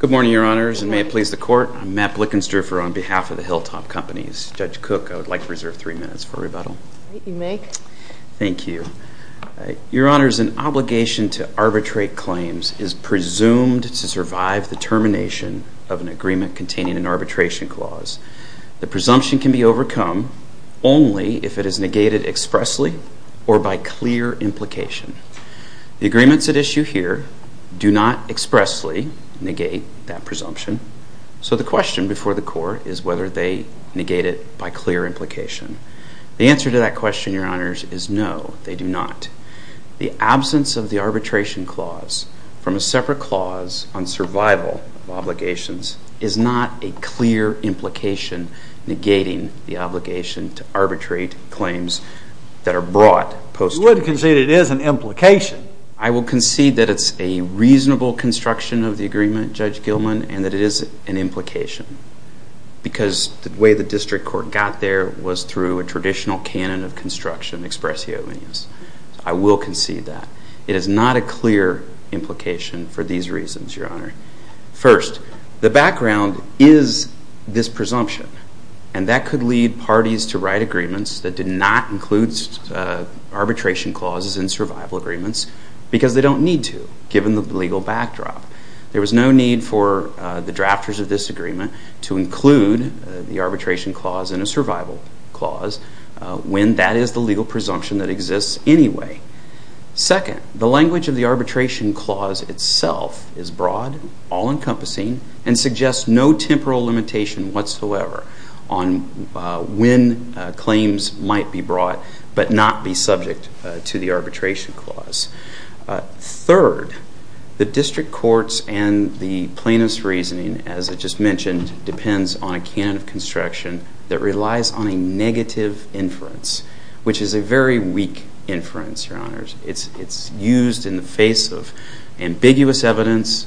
Good morning, Your Honors, and may it please the Court, I'm Matt Blickenstufer on behalf of the Hilltop Companies. Judge Cook, I would like to reserve three minutes for rebuttal. You may. Thank you. Your Honors, an obligation to arbitrate claims is presumed to survive the termination of an agreement containing an arbitration clause. The presumption can be overcome only if it is negated expressly or by clear implication. The agreements at issue here do not expressly negate that presumption. So the question before the Court is whether they negate it by clear implication. The answer to that question, Your Honors, is no, they do not. The absence of the arbitration clause from a separate clause on survival of obligations is not a clear implication negating the obligation to arbitrate claims that are brought post-trial. You would concede it is an implication? I would concede that it's a reasonable construction of the agreement, Judge Gilman, and that it is an implication because the way the District Court got there was through a traditional canon of construction, expressio venus. I will concede that. It is not a clear implication for these reasons, Your Honor. First, the background is this presumption. And that could lead parties to write agreements that did not include arbitration clauses in survival agreements because they don't need to, given the legal backdrop. There was no need for the drafters of this agreement to include the arbitration clause in a survival clause when that is the legal presumption that exists anyway. Second, the language of the arbitration clause itself is broad, all-encompassing, and suggests no temporal limitation whatsoever on when claims might be brought but not be subject to the arbitration clause. Third, the District Courts and the plaintiff's reasoning, as I just mentioned, depends on a canon of construction that relies on a negative inference, which is a very weak inference, Your Honors. It's used in the face of ambiguous evidence,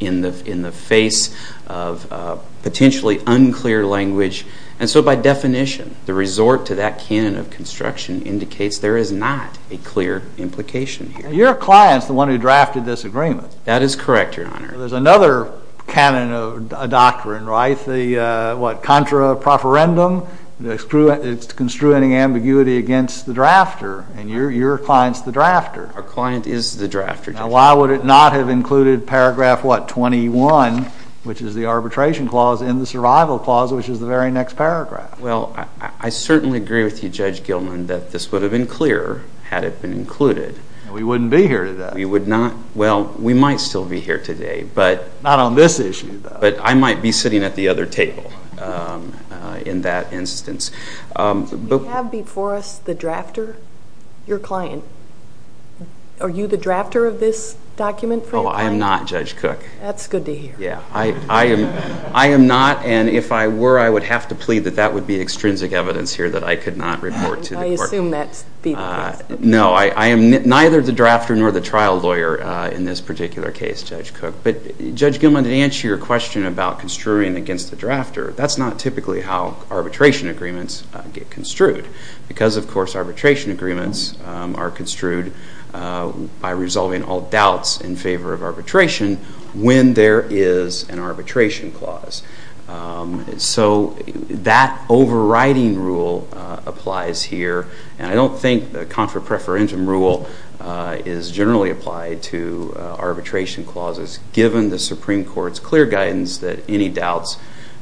in the face of potentially unclear language. And so by definition, the resort to that canon of construction indicates there is not a clear implication here. Your client's the one who drafted this agreement. That is correct, Your Honor. There's another canon of doctrine, right? The, what, contra profferendum? It's construing ambiguity against the drafter. And your client's the drafter. Our client is the drafter. Now, why would it not have included paragraph, what, 21, which is the arbitration clause, and the survival clause, which is the very next paragraph? Well, I certainly agree with you, Judge Gilman, that this would have been clearer had it been included. We wouldn't be here today. We would not. Well, we might still be here today, but. Not on this issue, though. But I might be sitting at the other table in that instance. Do you have before us the drafter, your client? Are you the drafter of this document for your client? Oh, I am not, Judge Cook. That's good to hear. Yeah, I am not, and if I were, I would have to plead that that would be extrinsic evidence here that I could not report to the court. I assume that's the case. No, I am neither the drafter nor the trial lawyer in this particular case, Judge Cook. But, Judge Gilman, to answer your question about construing against the drafter, that's not typically how arbitration agreements get construed. Because, of course, arbitration agreements are construed by resolving all doubts in favor of arbitration when there is an arbitration clause. So, that overriding rule applies here. And I don't think the contra preferential rule is generally applied to arbitration clauses, given the Supreme Court's clear guidance that any doubts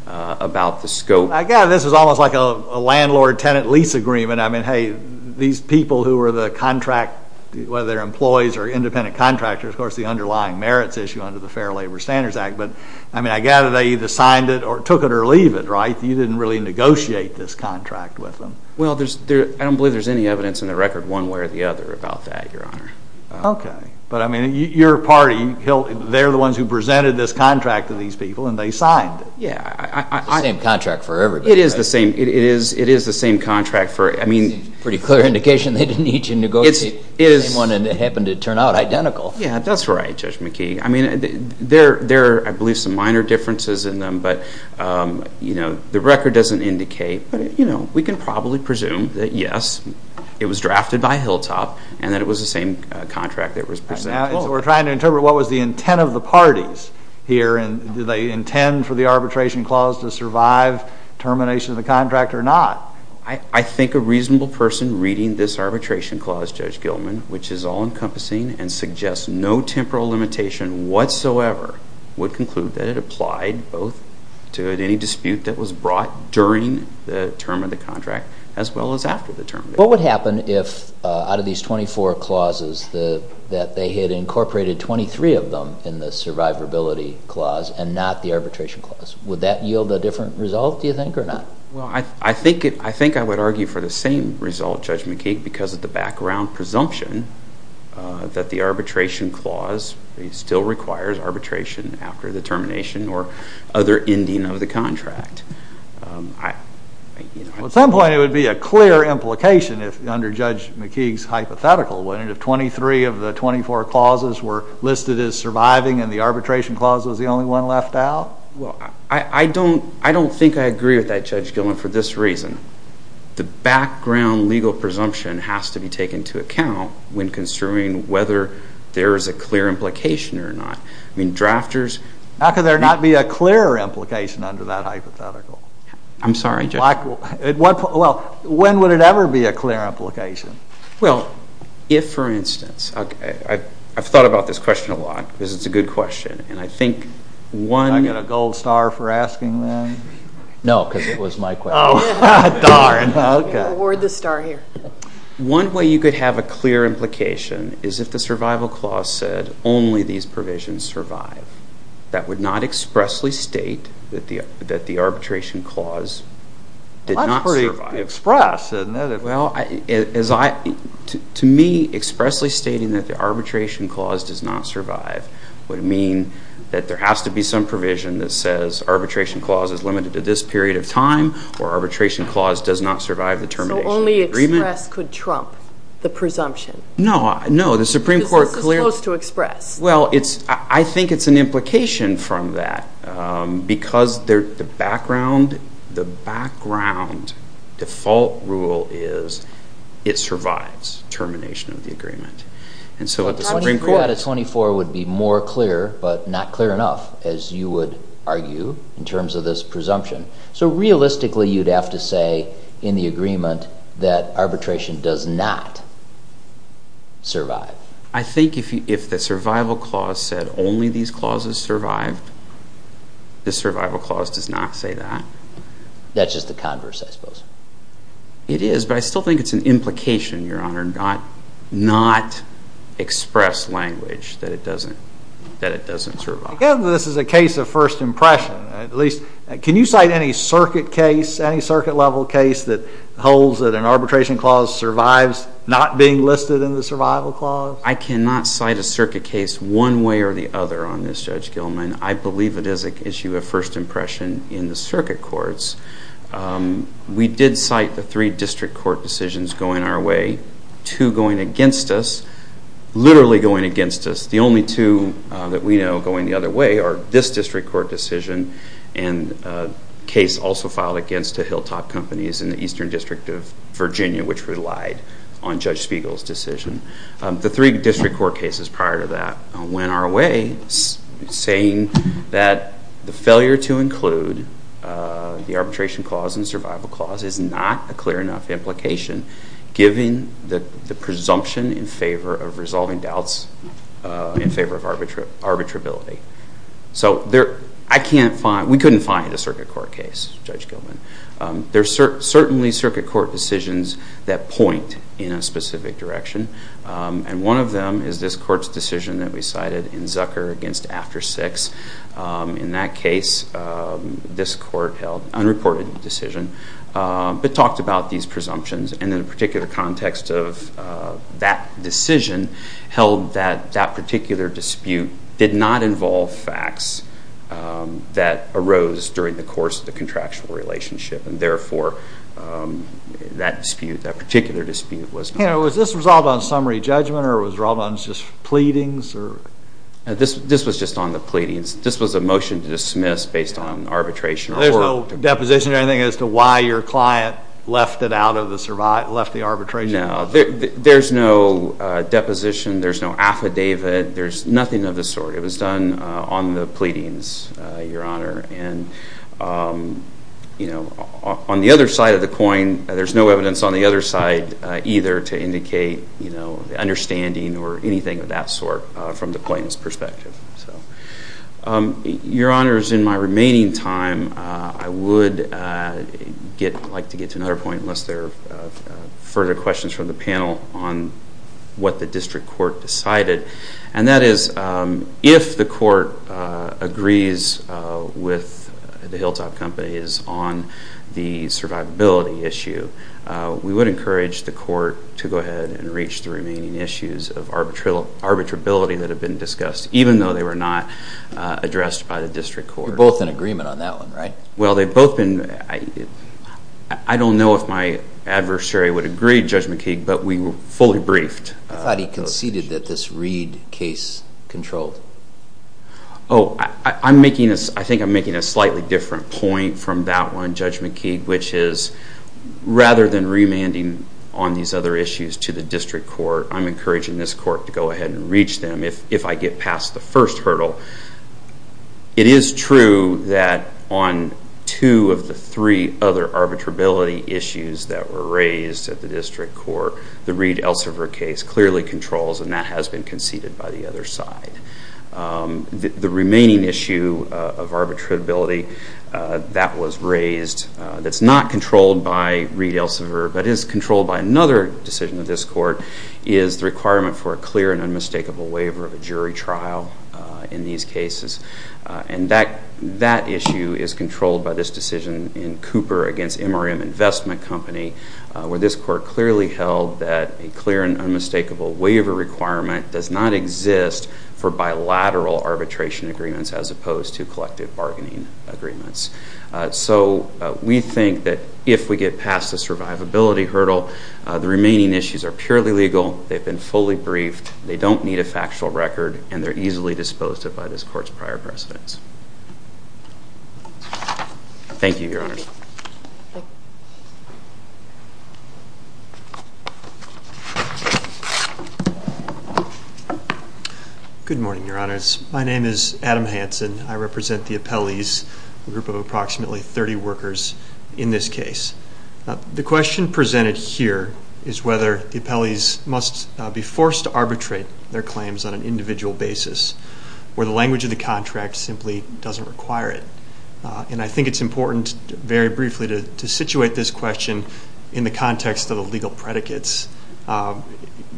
about the scope. Again, this is almost like a landlord-tenant lease agreement. I mean, hey, these people who are the contract, whether they're employees or independent contractors, of course, the underlying merits issue under the Fair Labor Standards Act. But, I mean, I gather they either signed it or took it or leave it, right? You didn't really negotiate this contract with them. Well, there's, I don't believe there's any evidence in the record one way or the other about that, Your Honor. Okay. But, I mean, your party, they're the ones who presented this contract to these people, and they signed it. Yeah, I, I, I. Same contract for everybody. It is the same, it is, it is the same contract for, I mean. Pretty clear indication they didn't need to negotiate. It is. The same one, and it happened to turn out identical. Yeah, that's right, Judge McKee. I mean, there, there are, I believe, some minor differences in them. But, you know, the record doesn't indicate, but, you know, we can probably presume that, yes, it was drafted by Hilltop, and that it was the same contract that was presented to them. So we're trying to interpret what was the intent of the parties here, and did they intend for the arbitration clause to survive termination of the contract or not? I, I think a reasonable person reading this arbitration clause, Judge Gilman, which is all-encompassing and suggests no temporal limitation whatsoever, would conclude that it applied both to any dispute that was brought during the term of the contract as well as after the term. What would happen if, out of these 24 clauses, the, that they had incorporated 23 of them in the survivability clause and not the arbitration clause? Would that yield a different result, do you think, or not? Well, I, I think it, I think I would argue for the same result, Judge McKeague, because of the background presumption that the arbitration clause still requires arbitration after the termination or other ending of the contract. I, you know... Well, at some point, it would be a clear implication if, under Judge McKeague's hypothetical, wouldn't it, if 23 of the 24 clauses were listed as surviving and the arbitration clause was the only one left out? Well, I, I don't, I don't think I agree with that, Judge Gillman, for this reason. The background legal presumption has to be taken into account when considering whether there is a clear implication or not. I mean, drafters... How could there not be a clear implication under that hypothetical? I'm sorry, Judge... Well, when would it ever be a clear implication? Well, if, for instance, OK, I've thought about this question a lot, because it's a good question, and I think one... Can I get a gold star for asking that? No, because it was my question. Oh, darn! OK. Award the star here. One way you could have a clear implication is if the survival clause said only these provisions survive. That would not expressly state that the arbitration clause did not survive. Well, that's pretty express, isn't it? Well, as I... To me, expressly stating that the arbitration clause does not survive would mean that there has to be some provision that says arbitration clause is limited to this period of time or arbitration clause does not survive the termination of the agreement. So only express could trump the presumption? No. No, the Supreme Court clearly... Because this is supposed to express. Well, I think it's an implication from that, because the background... The background default rule is it survives termination of the agreement. 24 out of 24 would be more clear, but not clear enough, as you would argue, in terms of this presumption. So realistically, you'd have to say in the agreement that arbitration does not survive. I think if the survival clause said only these clauses survived, the survival clause does not say that. That's just the converse, I suppose. It is, but I still think it's an implication, Your Honour, not express language that it doesn't survive. Given that this is a case of first impression, at least... Can you cite any circuit case, any circuit-level case that holds that an arbitration clause survives not being listed in the survival clause? I cannot cite a circuit case one way or the other on this, Judge Gilman. I believe it is an issue of first impression in the circuit courts. We did cite the three district court decisions going our way, two going against us, literally going against us. The only two that we know going the other way are this district court decision and a case also filed against the Hilltop Companies in the Eastern District of Virginia, which relied on Judge Spiegel's decision. The three district court cases prior to that went our way, saying that the failure to include the arbitration clause in the survival clause is not a clear enough implication given the presumption in favor of resolving doubts in favor of arbitrability. So I can't find... We couldn't find a circuit court case, Judge Gilman. There are certainly circuit court decisions that point in a specific direction, and one of them is this court's decision that we cited in Zucker against After Six. In that case, this court held an unreported decision but talked about these presumptions and in a particular context of that decision held that that particular dispute did not involve facts that arose during the course of the contractual relationship and therefore that dispute, that particular dispute was... Was this resolved on summary judgment or was it resolved on just pleadings? This was just on the pleadings. This was a motion to dismiss based on arbitration. There's no deposition or anything as to why your client left the arbitration? No, there's no deposition, there's no affidavit, there's nothing of the sort. It was done on the pleadings, Your Honor, and on the other side of the coin, there's no evidence on the other side either to indicate the understanding or anything of that sort from the plaintiff's perspective. So, Your Honor, in my remaining time, I would like to get to another point unless there are further questions from the panel on what the district court decided, and that is if the court agrees with the Hilltop Companies on the survivability issue, we would encourage the court to go ahead and reach the remaining issues of arbitrability that have been discussed, even though they were not addressed by the district court. You're both in agreement on that one, right? Well, they've both been... I don't know if my adversary would agree, Judge McKeague, but we were fully briefed. I thought he conceded that this Reed case controlled. Oh, I think I'm making a slightly different point from that one, Judge McKeague, which is rather than remanding on these other issues to the district court, I'm encouraging this court to go ahead and reach them if I get past the first hurdle. It is true that on two of the three other arbitrability issues that were raised at the district court, the Reed-Elsevier case clearly controls, and that has been conceded by the other side. The remaining issue of arbitrability that was raised that's not controlled by Reed-Elsevier but is controlled by another decision of this court is the requirement for a clear and unmistakable waiver of a jury trial in these cases, and that issue is controlled by this decision in Cooper against MRM Investment Company where this court clearly held that a clear and unmistakable waiver requirement does not exist for bilateral arbitration agreements as opposed to collective bargaining agreements. So we think that if we get past the survivability hurdle, the remaining issues are purely legal, they've been fully briefed, they don't need a factual record, and they're easily disposed of by this court's prior precedents. Thank you, Your Honors. Good morning, Your Honors. My name is Adam Hanson. I represent the appellees, a group of approximately 30 workers in this case. The question presented here is whether the appellees must be forced to arbitrate their claims on an individual basis where the language of the contract simply doesn't require it, and I think it's important, very briefly, to situate this question in the context of the legal predicates.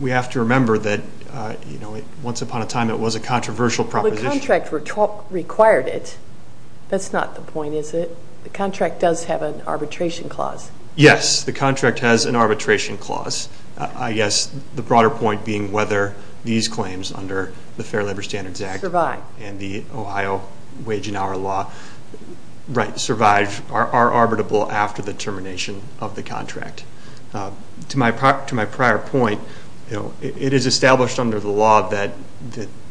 We have to remember that once upon a time it was a controversial proposition. Well, the contract required it. That's not the point, is it? The contract does have an arbitration clause. Yes, the contract has an arbitration clause. I guess the broader point being whether these claims under the Fair Labor Standards Act and the Ohio Wage and Hour Law are arbitrable after the termination of the contract. To my prior point, it is established under the law that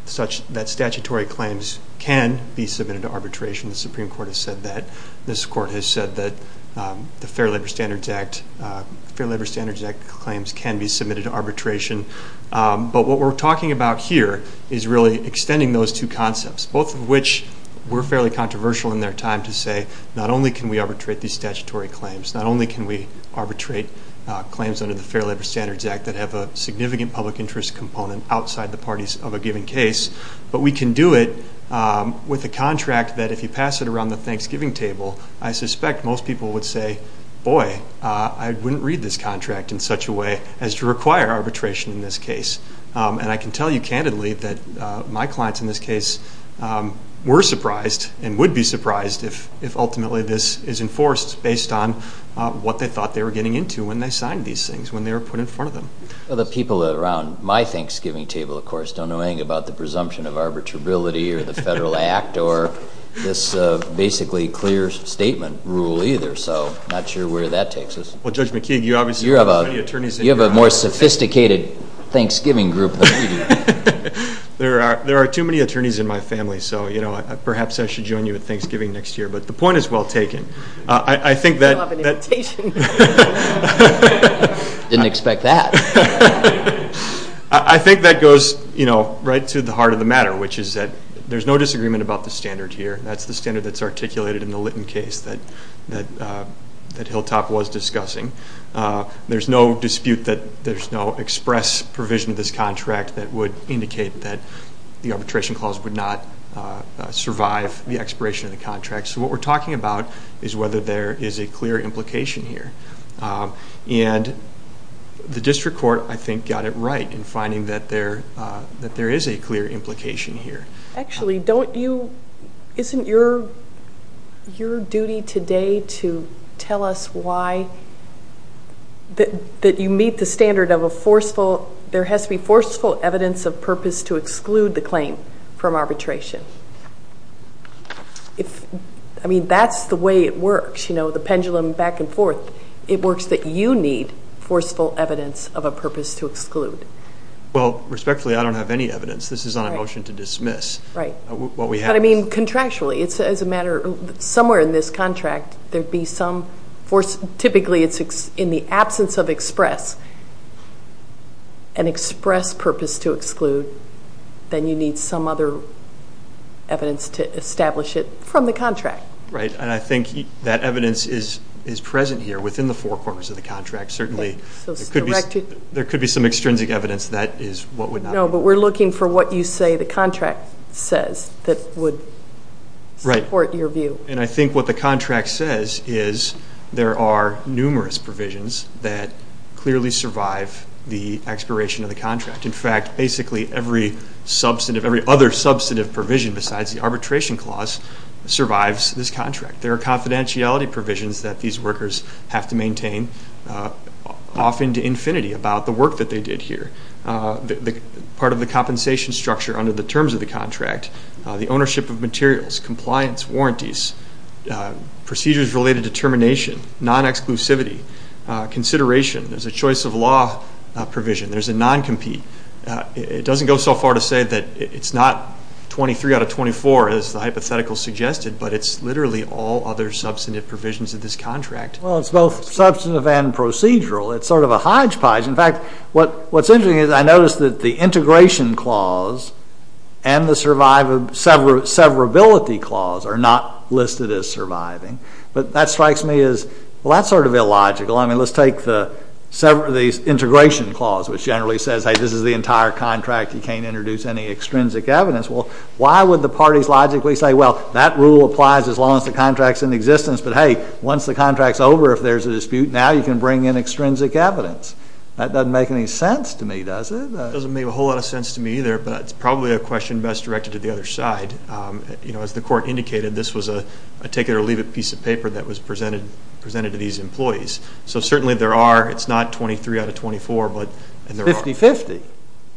statutory claims can be submitted to arbitration. The Supreme Court has said that. This Court has said that the Fair Labor Standards Act claims can be submitted to arbitration. But what we're talking about here is really extending those two concepts, both of which were fairly controversial in their time to say not only can we arbitrate these statutory claims, not only can we arbitrate claims under the Fair Labor Standards Act that have a significant public interest component outside the parties of a given case, but we can do it with a contract that, if you pass it around the Thanksgiving table, I suspect most people would say, boy, I wouldn't read this contract in such a way as to require arbitration in this case. And I can tell you candidly that my clients in this case were surprised and would be surprised if ultimately this is enforced based on what they thought they were getting into when they signed these things, when they were put in front of them. The people around my Thanksgiving table, of course, don't know anything about the presumption of arbitrability or the Federal Act or this basically clear statement rule either, so I'm not sure where that takes us. Well, Judge McKeague, you obviously have so many attorneys in your house. You have a more sophisticated Thanksgiving group than we do. There are too many attorneys in my family, so perhaps I should join you at Thanksgiving next year. But the point is well taken. You still have an invitation. Didn't expect that. I think that goes right to the heart of the matter, which is that there's no disagreement about the standard here. That's the standard that's articulated in the Litton case that Hilltop was discussing. There's no dispute that there's no express provision of this contract that would indicate that the arbitration clause would not survive the expiration of the contract. So what we're talking about is whether there is a clear implication here. And the district court, I think, got it right in finding that there is a clear implication here. Actually, isn't your duty today to tell us that you meet the standard of a forceful, there has to be forceful evidence of purpose to exclude the claim from arbitration? I mean, that's the way it works, you know, the pendulum back and forth. It works that you need forceful evidence of a purpose to exclude. Well, respectfully, I don't have any evidence. This is not a motion to dismiss. Right. But I mean contractually. It's as a matter of somewhere in this contract, there'd be some force. Typically, it's in the absence of express, an express purpose to exclude, then you need some other evidence to establish it from the contract. Right. And I think that evidence is present here within the four corners of the contract. Certainly, there could be some extrinsic evidence that is what would not be. No, but we're looking for what you say the contract says that would support your view. Right. And I think what the contract says is there are numerous provisions that clearly survive the expiration of the contract. In fact, basically every other substantive provision besides the arbitration clause survives this contract. There are confidentiality provisions that these workers have to maintain, often to infinity, about the work that they did here. Part of the compensation structure under the terms of the contract, the ownership of materials, compliance, warranties, procedures related to termination, non-exclusivity, consideration. There's a choice of law provision. There's a non-compete. It doesn't go so far to say that it's not 23 out of 24, as the hypothetical suggested, but it's literally all other substantive provisions of this contract. Well, it's both substantive and procedural. It's sort of a hodgepodge. In fact, what's interesting is I noticed that the integration clause and the severability clause are not listed as surviving. But that strikes me as, well, that's sort of illogical. I mean, let's take the severability integration clause, which generally says, hey, this is the entire contract. You can't introduce any extrinsic evidence. Well, why would the parties logically say, well, that rule applies as long as the contract's in existence. But, hey, once the contract's over, if there's a dispute, now you can bring in extrinsic evidence. That doesn't make any sense to me, does it? It doesn't make a whole lot of sense to me either, but it's probably a question best directed to the other side. presented to these employees. So certainly there are. It's not 23 out of 24, but there are. Fifty-fifty?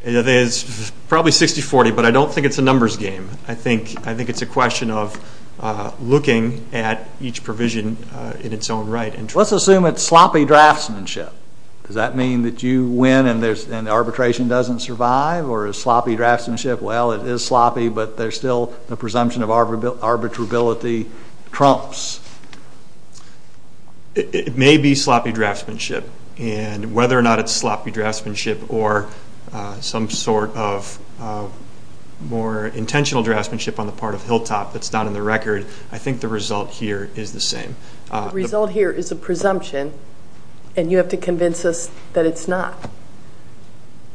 It's probably 60-40, but I don't think it's a numbers game. I think it's a question of looking at each provision in its own right. Let's assume it's sloppy draftsmanship. Does that mean that you win and arbitration doesn't survive? Or is sloppy draftsmanship, well, it is sloppy, but there's still the presumption of arbitrability trumps? It may be sloppy draftsmanship, and whether or not it's sloppy draftsmanship or some sort of more intentional draftsmanship on the part of Hilltop that's not in the record, I think the result here is the same. The result here is a presumption, and you have to convince us that it's not.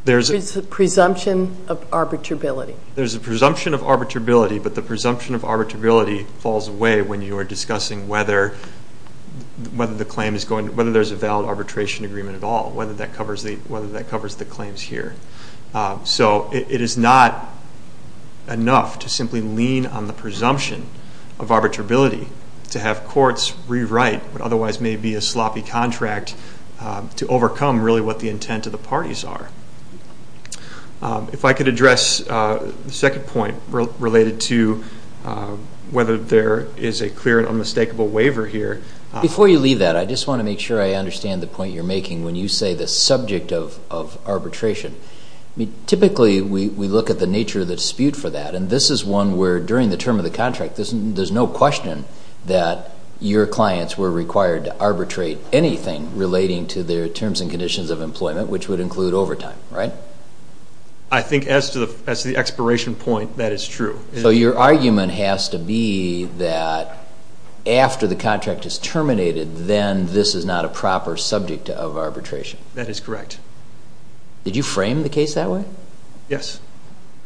It's a presumption of arbitrability. There's a presumption of arbitrability, but the presumption of arbitrability falls away when you are discussing whether there's a valid arbitration agreement at all, whether that covers the claims here. So it is not enough to simply lean on the presumption of arbitrability to have courts rewrite what otherwise may be a sloppy contract to overcome really what the intent of the parties are. If I could address the second point related to whether there is a clear and unmistakable waiver here. Before you leave that, I just want to make sure I understand the point you're making when you say the subject of arbitration. Typically we look at the nature of the dispute for that, and this is one where during the term of the contract there's no question that your clients were required to arbitrate anything relating to their terms and conditions of employment, which would include overtime, right? I think as to the expiration point, that is true. So your argument has to be that after the contract is terminated, then this is not a proper subject of arbitration. That is correct. Did you frame the case that way? Yes.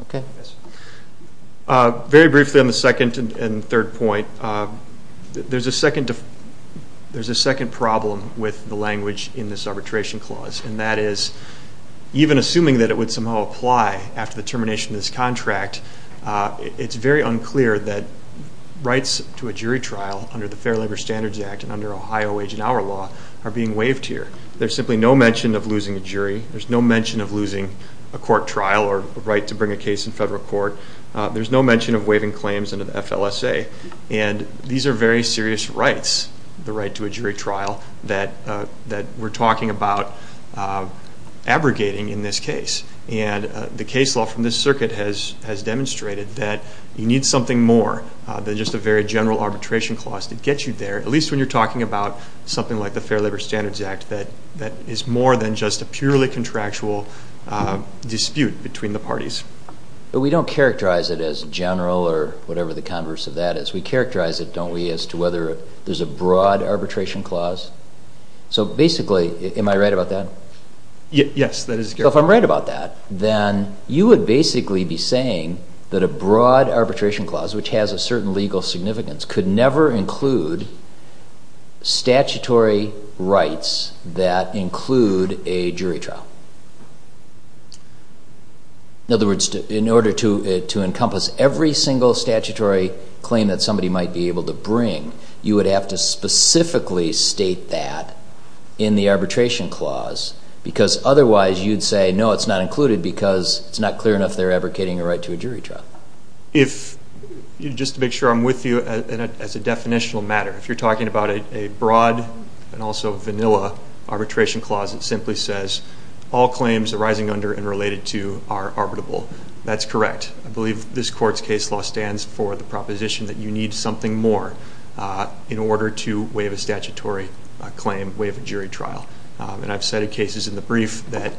Okay. Very briefly on the second and third point, there's a second problem with the language in this arbitration clause, and that is even assuming that it would somehow apply after the termination of this contract, it's very unclear that rights to a jury trial under the Fair Labor Standards Act and under Ohio Age and Hour Law are being waived here. There's simply no mention of losing a jury. There's no mention of losing a court trial or a right to bring a case in federal court. There's no mention of waiving claims under the FLSA. And these are very serious rights, the right to a jury trial, that we're talking about abrogating in this case. And the case law from this circuit has demonstrated that you need something more than just a very general arbitration clause to get you there, at least when you're talking about something like the Fair Labor Standards Act that is more than just a purely contractual dispute between the parties. We don't characterize it as general or whatever the converse of that is. We characterize it, don't we, as to whether there's a broad arbitration clause. So basically, am I right about that? Yes, that is correct. So if I'm right about that, then you would basically be saying that a broad arbitration clause, which has a certain legal significance, could never include statutory rights that include a jury trial. In other words, in order to encompass every single statutory claim that somebody might be able to bring, you would have to specifically state that in the arbitration clause, because otherwise you'd say, no, it's not included because it's not clear enough they're abrogating a right to a jury trial. Just to make sure I'm with you, as a definitional matter, if you're talking about a broad and also vanilla arbitration clause, it simply says all claims arising under and related to are arbitrable. That's correct. I believe this court's case law stands for the proposition that you need something more in order to waive a statutory claim, waive a jury trial. I've cited cases in the brief that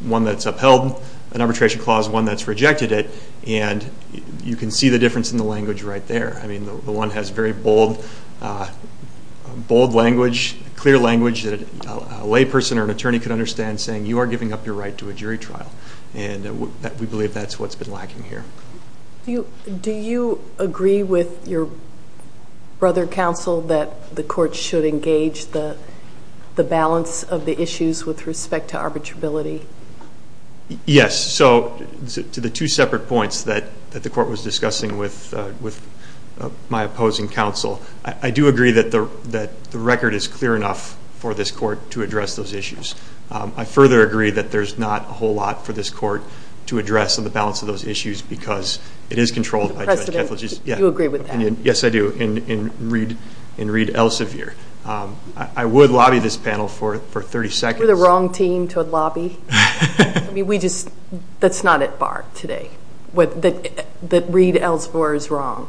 one that's upheld an arbitration clause, one that's rejected it, and you can see the difference in the language right there. I mean, the one has very bold language, clear language, that a layperson or an attorney could understand saying, you are giving up your right to a jury trial. And we believe that's what's been lacking here. Do you agree with your brother counsel that the court should engage the balance of the issues with respect to arbitrability? Yes. So to the two separate points that the court was discussing with my opposing counsel, I do agree that the record is clear enough for this court to address those issues. I further agree that there's not a whole lot for this court to address on the balance of those issues because it is controlled by judge Keflavik. You agree with that? Yes, I do, in Reed Elsevier. I would lobby this panel for 30 seconds. You're the wrong team to lobby. I mean, that's not at bar today, that Reed Elsevier is wrong.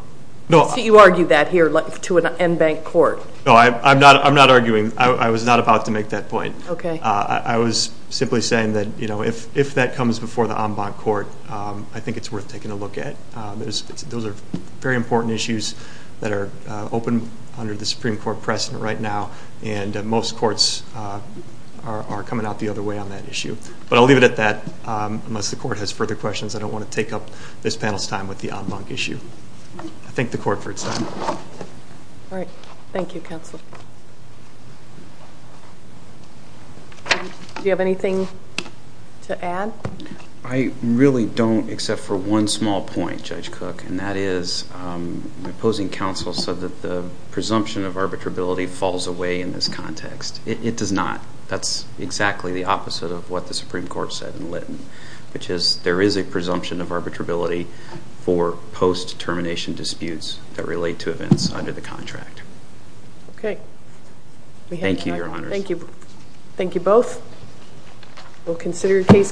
You argue that here to an en banc court. No, I'm not arguing. I was not about to make that point. Okay. I was simply saying that, you know, if that comes before the en banc court, I think it's worth taking a look at. Those are very important issues that are open under the Supreme Court precedent right now, and most courts are coming out the other way on that issue. But I'll leave it at that. Unless the court has further questions, I don't want to take up this panel's time with the en banc issue. I thank the court for its time. All right. Thank you, counsel. Do you have anything to add? I really don't, except for one small point, Judge Cook, and that is the opposing counsel said that the presumption of arbitrability falls away in this context. It does not. That's exactly the opposite of what the Supreme Court said in Litton, which is there is a presumption of arbitrability for post-termination disputes that relate to events under the contract. Okay. Thank you, Your Honors. Thank you. Thank you both. We'll consider your case carefully.